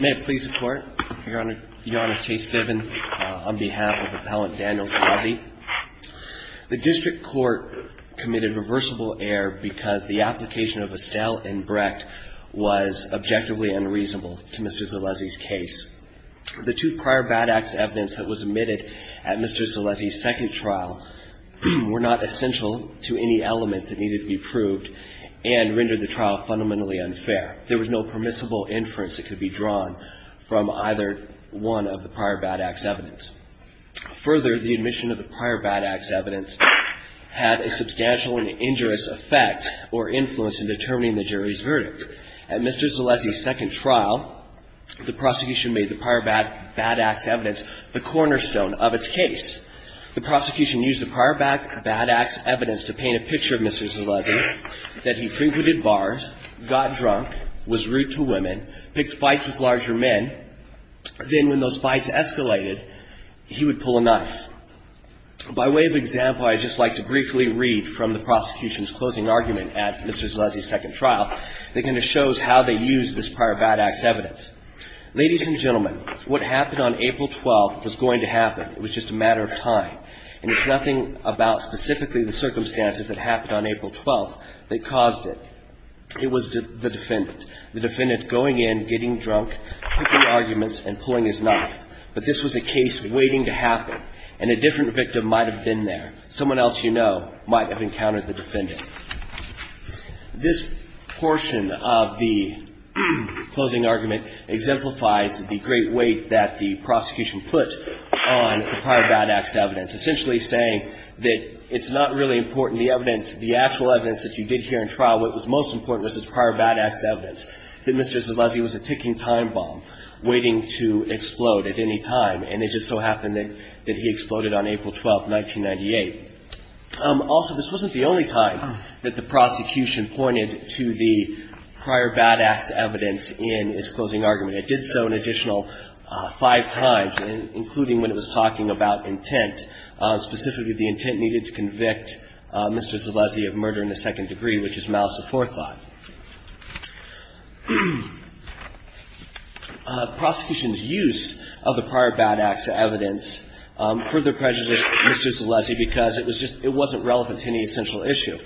May it please the court, Your Honor, Chase Biven, on behalf of Appellant Daniel Zolezzi, the district court committed reversible error because the application of Estelle and Brecht was objectively unreasonable to Mr. Zolezzi's case. The two prior bad acts evidence that was admitted at Mr. Zolezzi's second trial were not essential to any element that needed to be proved and rendered the trial fundamentally unfair. There was no permissible inference that could be drawn from either one of the prior bad acts evidence. Further, the admission of the prior bad acts evidence had a substantial and injurious effect or influence in determining the jury's verdict. At Mr. Zolezzi's second trial, the prosecution made the prior bad acts evidence the cornerstone of its case. The prosecution used the prior bad acts evidence to paint a picture of Mr. Zolezzi that he frequented bars, got drunk, was rude to women, picked fights with larger men. Then when those fights escalated, he would pull a knife. By way of example, I'd just like to briefly read from the prosecution's closing argument at Mr. Zolezzi's second trial that kind of shows how they used this prior bad acts evidence. Ladies and gentlemen, what happened on April 12th was going to happen. It was just a matter of time. And it's nothing about specifically the circumstances that happened on April 12th that caused it. It was the defendant. The defendant going in, getting drunk, picking arguments, and pulling his knife. But this was a case waiting to happen, and a different victim might have been there. Someone else you know might have encountered the defendant. This portion of the closing argument exemplifies the great weight that the prosecution put on the prior bad acts evidence, essentially saying that it's not really important, the evidence, the actual evidence that you did hear in trial, what was most important was this prior bad acts evidence, that Mr. Zolezzi was a ticking time bomb waiting to explode at any time. And it just so happened that he exploded on April 12th, 1998. Also, this wasn't the only time that the prosecution pointed to the prior bad acts evidence in its closing argument. It did so an additional five times, including when it was talking about intent, specifically the intent needed to convict Mr. Zolezzi of murder in the second degree, which is malice of forethought. Prosecution's use of the prior bad acts evidence further prejudiced Mr. Zolezzi because it was just – it wasn't relevant to any essential issue.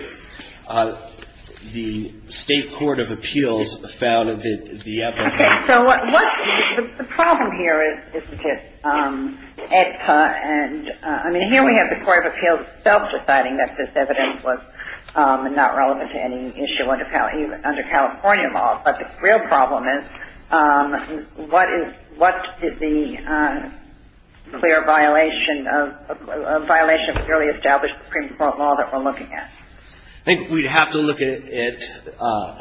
The State Court of Appeals found that the evidence – Okay, so what – the problem here isn't just EDPA and – I mean, here we have the Court of Appeals itself deciding that this evidence was not relevant to any issue under California law. But the real problem is what is – what did the clear violation of – a violation of clearly established Supreme Court law that we're looking at? I think we'd have to look at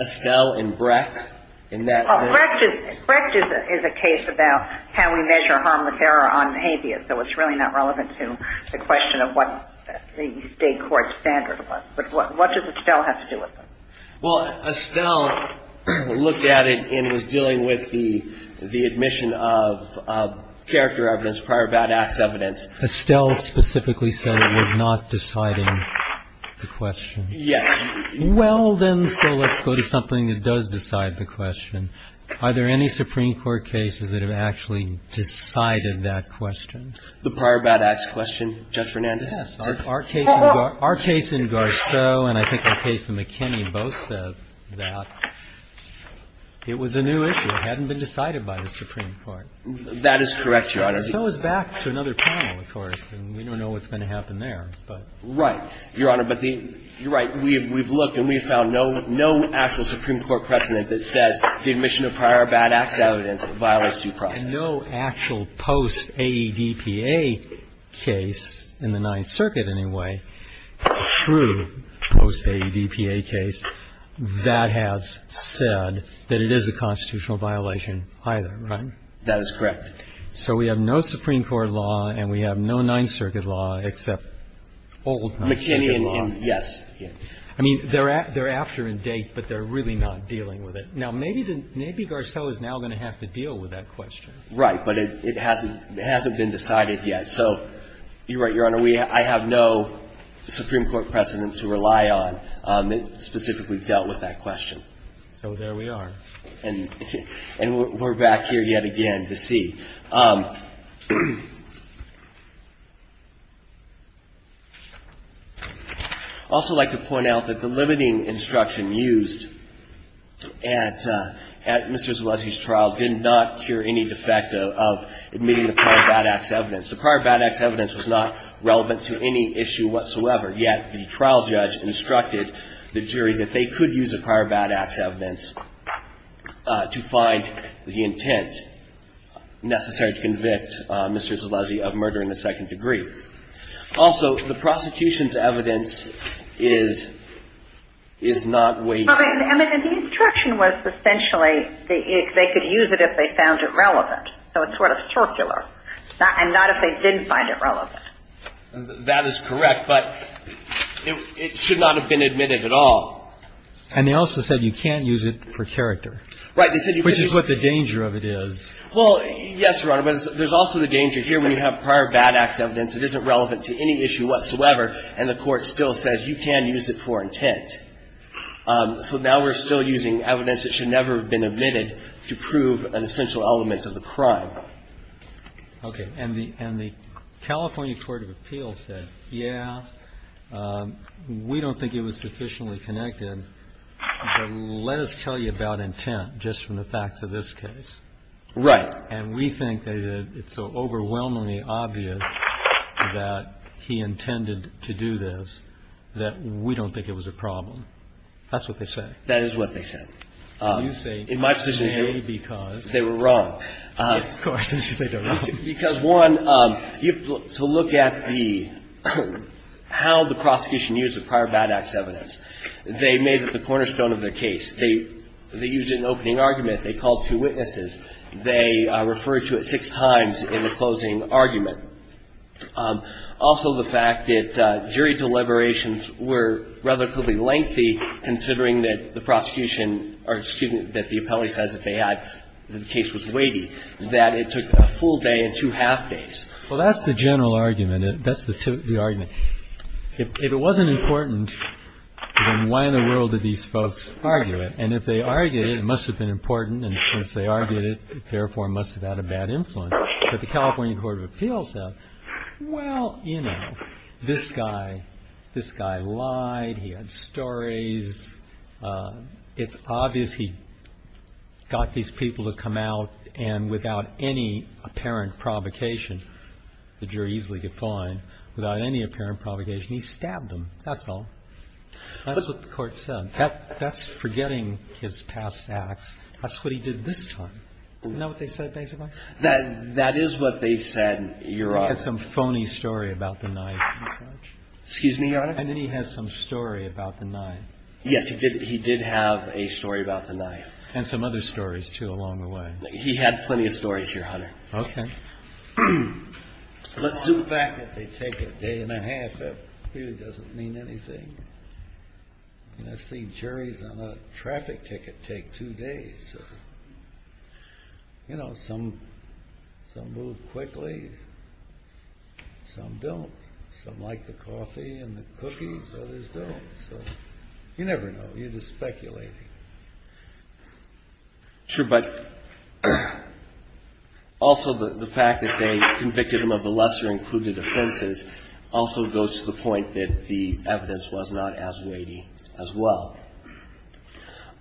Estelle and Brecht in that sense. Brecht is – Brecht is a case about can we measure harmless error on an atheist. So it's really not relevant to the question of what the State Court standard was. But what does Estelle have to do with it? Well, Estelle looked at it and was dealing with the admission of character evidence, prior bad acts evidence. Estelle specifically said it was not deciding the question. Yes. Well, then, so let's go to something that does decide the question. Are there any Supreme Court cases that have actually decided that question? The prior bad acts question, Judge Fernandez. Yes. Our case in Garceau and I think the case in McKinney both said that it was a new issue. It hadn't been decided by the Supreme Court. That is correct, Your Honor. And so it's back to another panel, of course, and we don't know what's going to happen there. Right. Your Honor, but the – you're right. We've looked and we've found no actual Supreme Court precedent that says the admission of prior bad acts evidence violates due process. No actual post-AEDPA case in the Ninth Circuit, anyway, true post-AEDPA case, that has said that it is a constitutional violation either, right? That is correct. So we have no Supreme Court law and we have no Ninth Circuit law except old Ninth Circuit law. McKinney and – yes. I mean, they're after in date, but they're really not dealing with it. Now, maybe Garceau is now going to have to deal with that question. Right. But it hasn't been decided yet. So you're right, Your Honor. I have no Supreme Court precedent to rely on that specifically dealt with that question. So there we are. And we're back here yet again to see. I'd also like to point out that the limiting instruction used at Mr. Zaleski's trial did not cure any defect of admitting the prior bad acts evidence. The prior bad acts evidence was not relevant to any issue whatsoever, yet the trial judge instructed the jury that they could use a prior bad acts evidence to find the intent necessary to convict Mr. Zaleski of murder in the second degree. Also, the prosecution's evidence is not way – I mean, the instruction was essentially they could use it if they found it relevant. So it's sort of circular. And not if they didn't find it relevant. That is correct, but it should not have been admitted at all. And they also said you can't use it for character. Right. Which is what the danger of it is. Well, yes, Your Honor. But there's also the danger here when you have prior bad acts evidence that isn't relevant to any issue whatsoever, and the court still says you can use it for intent. So now we're still using evidence that should never have been admitted to prove an essential element of the crime. Okay. And the California Court of Appeals said, yeah, we don't think it was sufficiently connected, but let us tell you about intent just from the facts of this case. Right. And we think that it's so overwhelmingly obvious that he intended to do this that we don't think it was a problem. That's what they say. That is what they said. In my position, they were wrong. Of course. They don't know. Because, one, to look at the how the prosecution used the prior bad acts evidence, they made it the cornerstone of their case. They used it in the opening argument. They called two witnesses. They referred to it six times in the closing argument. Also, the fact that jury deliberations were relatively lengthy considering that the prosecution, or excuse me, that the appellee says that the case was weighty, that it took a full day and two half days. Well, that's the general argument. That's the argument. If it wasn't important, then why in the world did these folks argue it? And if they argued it, it must have been important, and since they argued it, it therefore must have had a bad influence. But the California Court of Appeals said, well, you know, this guy lied. He had stories. It's obvious he got these people to come out, and without any apparent provocation, the jury easily could find, without any apparent provocation, he stabbed them. That's all. That's what the Court said. That's forgetting his past acts. That's what he did this time. Isn't that what they said, basically? That is what they said, Your Honor. He had some phony story about the knife and such. Excuse me, Your Honor. And then he had some story about the knife. Yes, he did have a story about the knife. And some other stories, too, along the way. He had plenty of stories, Your Honor. Okay. Let's zoom back. They take a day and a half. That really doesn't mean anything. I've seen juries on a traffic ticket take two days. You know, some move quickly. Some don't. Some like the coffee and the cookies. Others don't. So you never know. You're just speculating. Sure. But also the fact that they convicted him of the lesser included offenses also goes to the point that the evidence was not as weighty as well.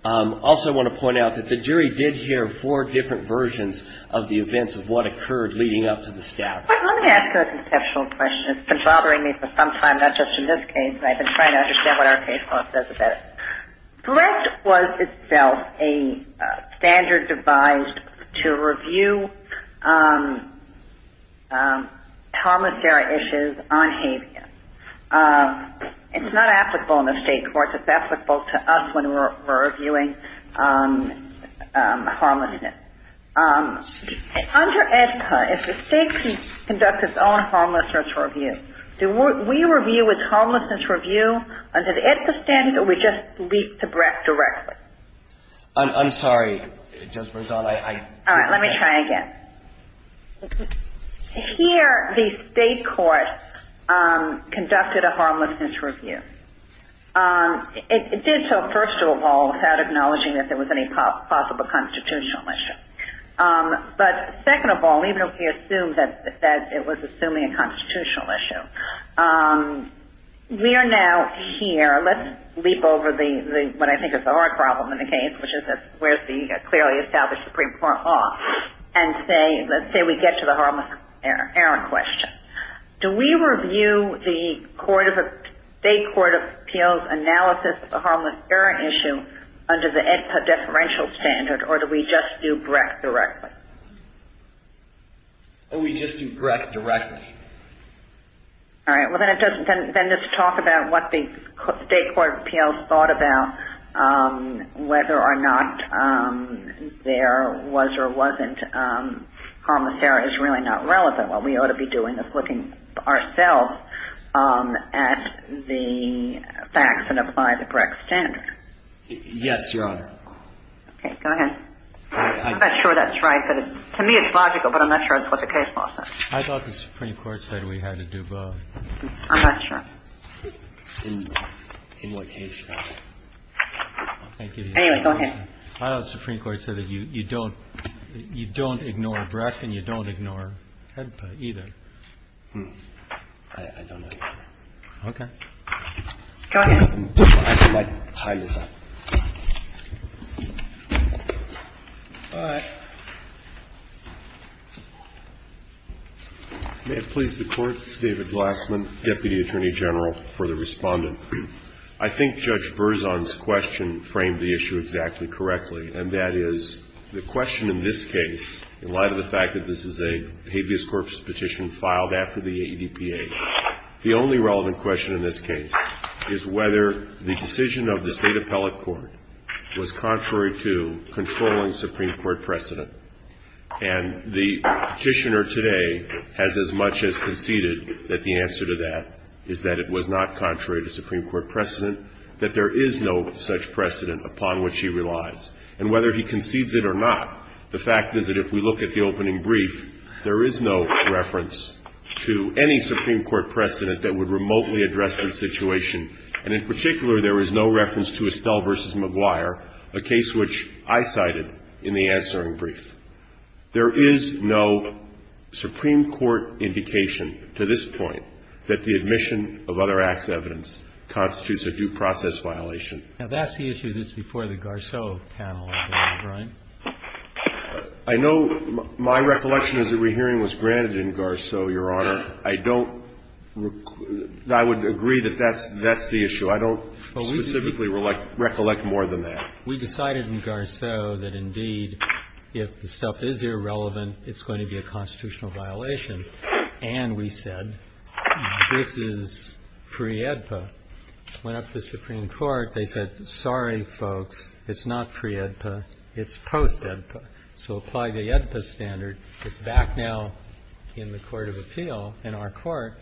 Also, I want to point out that the jury did hear four different versions of the events of what occurred leading up to the stabbing. Let me ask you a conceptual question. It's been bothering me for some time, not just in this case. And I've been trying to understand what our case law says about it. Threat was itself a standard devised to review harmless error issues on habeas. It's not applicable in the state courts. It's applicable to us when we're reviewing harmlessness. Under EDSA, if the state conducts its own harmlessness review, do we review its harmlessness review under the EDSA standard, or do we just leap to breath directly? I'm sorry, Judge Berzon. All right. Let me try again. Here, the state court conducted a harmlessness review. It did so, first of all, without acknowledging that there was any possible constitutional issue. But second of all, even if we assume that it was assuming a constitutional issue, we are now here. Let's leap over what I think is the hard problem in the case, which is that where's the clearly established Supreme Court law, and let's say we get to the harmless error question. Do we review the state court appeal's analysis of the harmless error issue under the EDSA deferential standard, or do we just do breath directly? We just do breath directly. All right. Well, then just talk about what the state court appeals thought about whether or not there was or wasn't harmless error is really not relevant. What we ought to be doing is looking ourselves at the facts and apply the correct standard. Yes, Your Honor. Okay. Go ahead. I'm not sure that's right, but to me it's logical, but I'm not sure that's what the case law says. I thought the Supreme Court said we had to do both. I'm not sure. In what case law? Anyway, go ahead. I thought the Supreme Court said that you don't ignore breath and you don't ignore head play either. I don't know. Okay. Go ahead. All right. May it please the Court. David Glassman, Deputy Attorney General, for the Respondent. I think Judge Berzon's question framed the issue exactly correctly, and that is the question in this case, in light of the fact that this is a habeas corpus petition filed after the ADPA, the only relevant question in this case is whether the decision of the State Appellate Court was contrary to controlling Supreme Court precedent. And the petitioner today has as much as conceded that the answer to that is that it was not contrary to Supreme Court precedent, that there is no such precedent upon which he relies. And whether he concedes it or not, the fact is that if we look at the opening brief, there is no reference to any Supreme Court precedent that would remotely address the situation. And in particular, there is no reference to Estelle v. Maguire, a case which I cited in the answering brief. There is no Supreme Court indication to this point that the admission of other acts of evidence constitutes a due process violation. Now, that's the issue that's before the Garceau panel, isn't it, Brian? I know my recollection is that rehearing was granted in Garceau, Your Honor. I don't – I would agree that that's the issue. I don't specifically recollect more than that. We decided in Garceau that, indeed, if the stuff is irrelevant, it's going to be a constitutional violation, and we said this is pre-ADPA. But when it went up to the Supreme Court, they said, sorry, folks, it's not pre-ADPA, it's post-ADPA. So apply the ADPA standard. It's back now in the court of appeal, in our Court.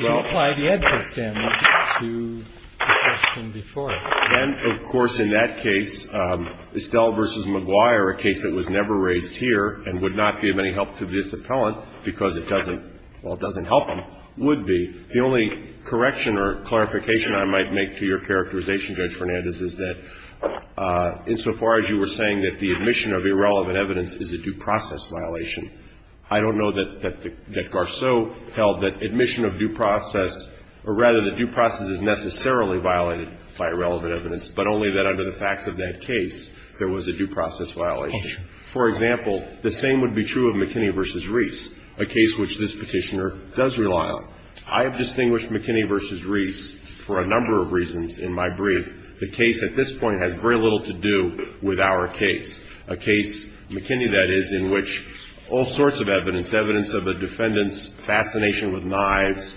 So apply the ADPA standard to the question before it. And, of course, in that case, Estelle v. Maguire, a case that was never raised here and would not give any help to this Appellant because it doesn't – well, it doesn't help him, would be. The only correction or clarification I might make to your characterization, Judge Fernandez, is that insofar as you were saying that the admission of irrelevant evidence is a due process violation, I don't know that Garceau held that admission of due process – or, rather, that due process is necessarily violated by irrelevant evidence, but only that under the facts of that case there was a due process violation. For example, the same would be true of McKinney v. Reese, a case which this Petitioner does rely on. I have distinguished McKinney v. Reese for a number of reasons in my brief. The case at this point has very little to do with our case, a case, McKinney, that is, in which all sorts of evidence, evidence of a defendant's fascination with knives,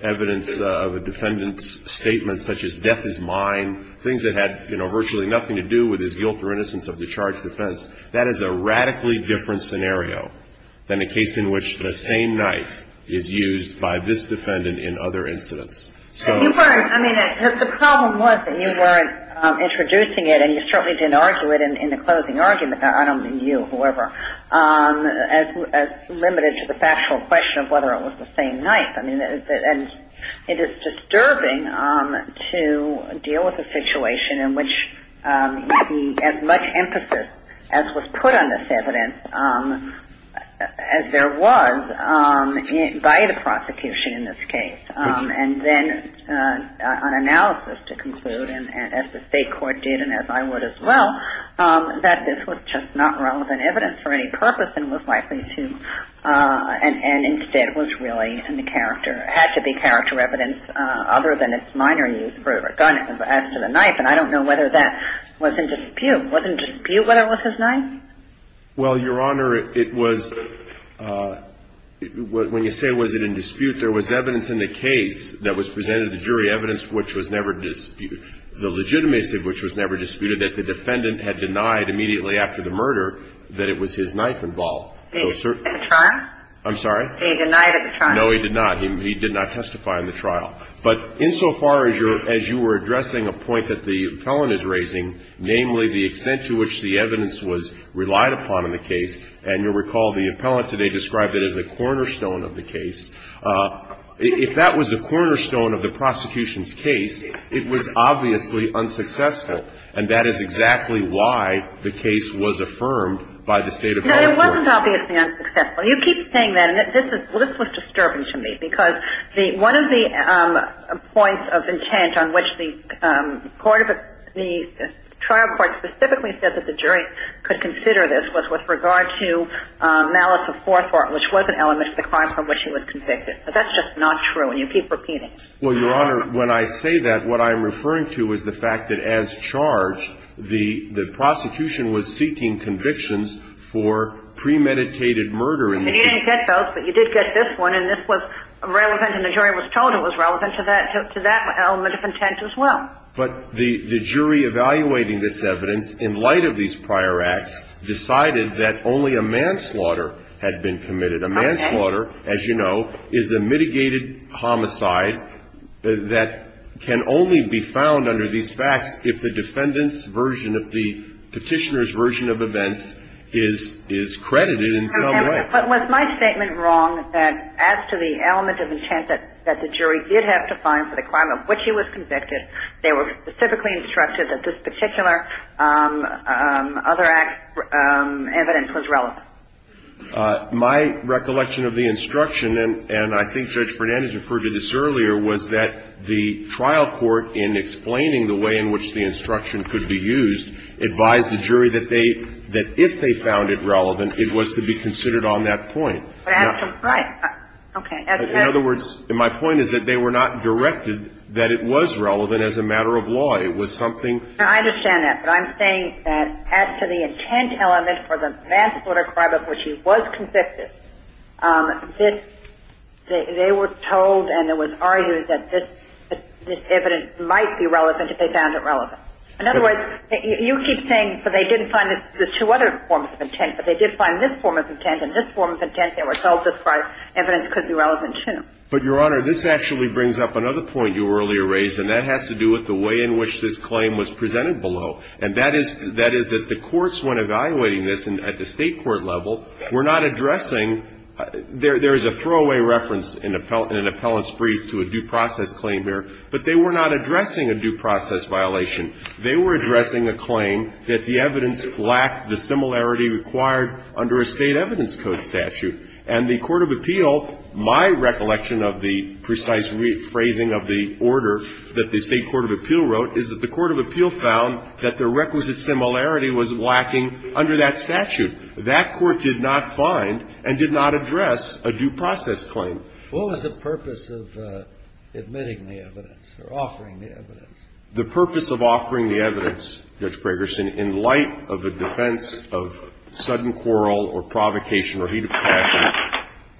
evidence of a defendant's statements such as death is mine, things that had, you know, virtually nothing to do with his guilt or innocence of the charge of defense. That is a radically different scenario than a case in which the same knife is used by this defendant in other incidents. So – You weren't – I mean, the problem was that you weren't introducing it, and you certainly didn't argue it in the closing argument – I don't mean you, however – as limited to the factual question of whether it was the same knife. I mean, and it is disturbing to deal with a situation in which you see as much emphasis, as was put on this evidence, as there was, by the prosecution in this case. And then an analysis to conclude, as the state court did and as I would as well, that this was just not relevant evidence for any purpose and was likely to – and instead was really in the character – had to be character evidence other than its minor use as to the knife. And I don't know whether that was in dispute. Was it in dispute whether it was his knife? Well, Your Honor, it was – when you say was it in dispute, there was evidence in the case that was presented to jury evidence which was never – the legitimacy of which was never disputed, that the defendant had denied immediately after the murder that it was his knife involved. At the trial? I'm sorry? He denied at the trial. No, he did not. He did not testify in the trial. But insofar as you were addressing a point that the appellant is raising, namely the extent to which the evidence was relied upon in the case, and you'll recall the appellant today described it as the cornerstone of the case, if that was the cornerstone of the prosecution's case, it was obviously unsuccessful. And that is exactly why the case was affirmed by the State Appellate Court. No, it wasn't obviously unsuccessful. You keep saying that. Well, this was disturbing to me because one of the points of intent on which the court of – the trial court specifically said that the jury could consider this was with regard to malice of forethought, which was an element of the crime from which he was convicted. But that's just not true, and you keep repeating. Well, Your Honor, when I say that, what I'm referring to is the fact that as charged, And you didn't get those, but you did get this one, and this was relevant, and the jury was told it was relevant to that element of intent as well. But the jury evaluating this evidence in light of these prior acts decided that only a manslaughter had been committed. A manslaughter, as you know, is a mitigated homicide that can only be found under these facts if the defendant's version of the petitioner's version of events is credited in some way. But was my statement wrong that as to the element of intent that the jury did have to find for the crime of which he was convicted, they were specifically instructed that this particular other act's evidence was relevant? My recollection of the instruction, and I think Judge Fernandez referred to this earlier, was that the trial court, in explaining the way in which the instruction could be used, advised the jury that they – that if they found it relevant, it was to be considered on that point. Right. Okay. In other words, my point is that they were not directed that it was relevant as a matter of law. It was something – I understand that. But I'm saying that as to the intent element for the manslaughter crime of which he was convicted, they were told and it was argued that this evidence might be relevant if they found it relevant. Okay. In other words, you keep saying that they didn't find the two other forms of intent, but they did find this form of intent. In this form of intent, they were told this evidence could be relevant, too. But, Your Honor, this actually brings up another point you earlier raised, and that has to do with the way in which this claim was presented below. And that is – that is that the courts, when evaluating this at the State court level, were not addressing – there is a throwaway reference in an appellant's brief to a due process claim here, but they were not addressing a due process violation. They were addressing a claim that the evidence lacked the similarity required under a State evidence code statute. And the court of appeal, my recollection of the precise rephrasing of the order that the State court of appeal wrote, is that the court of appeal found that the requisite similarity was lacking under that statute. That court did not find and did not address a due process claim. What was the purpose of admitting the evidence or offering the evidence? The purpose of offering the evidence, Judge Gregersen, in light of the defense of sudden quarrel or provocation or heat of passion,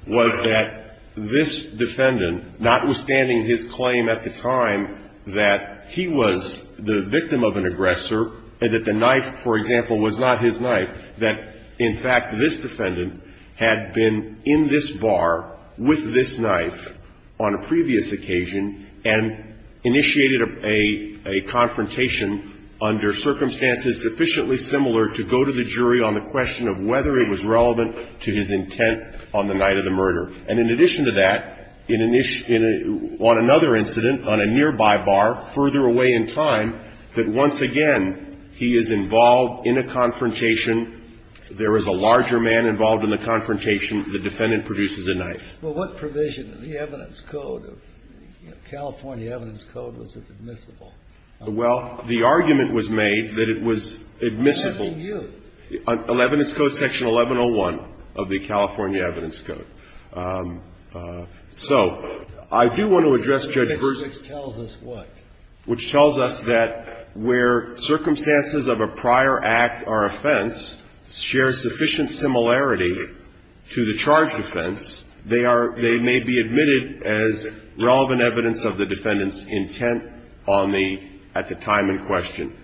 was that this defendant, notwithstanding his claim at the time that he was the victim of an aggressor and that the knife, for example, was not his knife, that, in fact, this defendant had been in this bar with this knife on a previous occasion and initiated a – a confrontation under circumstances sufficiently similar to go to the jury on the question of whether it was relevant to his intent on the night of the murder. And in addition to that, on another incident, on a nearby bar, further away in time, that once again he is involved in a confrontation, there is a larger man involved in the confrontation, the defendant produces a knife. Well, what provision in the evidence code, California evidence code, was it admissible? Well, the argument was made that it was admissible. What does that mean to you? Evidence code section 1101 of the California evidence code. So I do want to address, Judge Gersen. Which tells us what? Which tells us that where circumstances of a prior act or offense share sufficient similarity to the charge offense, they are – they may be admitted as relevant evidence of the defendant's intent on the – at the time in question.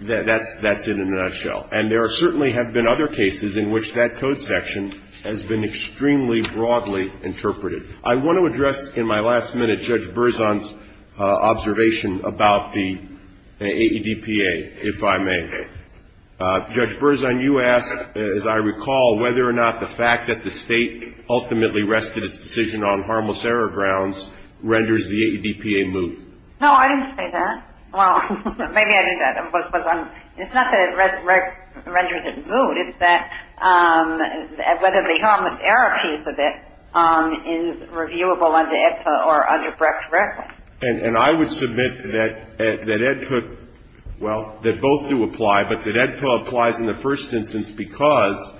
That's – that's it in a nutshell. And there are – certainly have been other cases in which that code section has been extremely broadly interpreted. I want to address in my last minute Judge Berzon's observation about the AEDPA, if I may. Judge Berzon, you asked, as I recall, whether or not the fact that the State ultimately rested its decision on harmless error grounds renders the AEDPA moot. No, I didn't say that. Well, maybe I did. It's not that it renders it moot. It's that whether the harmless error piece of it is reviewable under AEDPA or under Brecht-Rick. And I would submit that – that AEDPA – well, that both do apply, but that AEDPA applies in the first instance because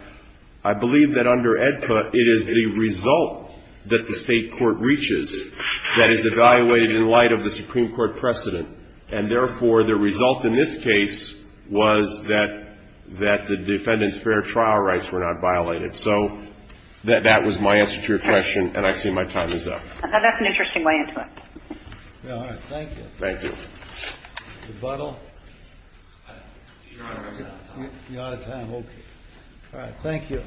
I believe that under AEDPA, it is the result that the State court reaches that is evaluated in light of the Supreme Court precedent. And therefore, the result in this case was that the defendant's fair trial rights were not violated. So that was my answer to your question, and I see my time is up. That's an interesting way into it. All right. Thank you. Thank you. Rebuttal? Your Honor, I'm out of time. You're out of time. Okay. All right. Thank you.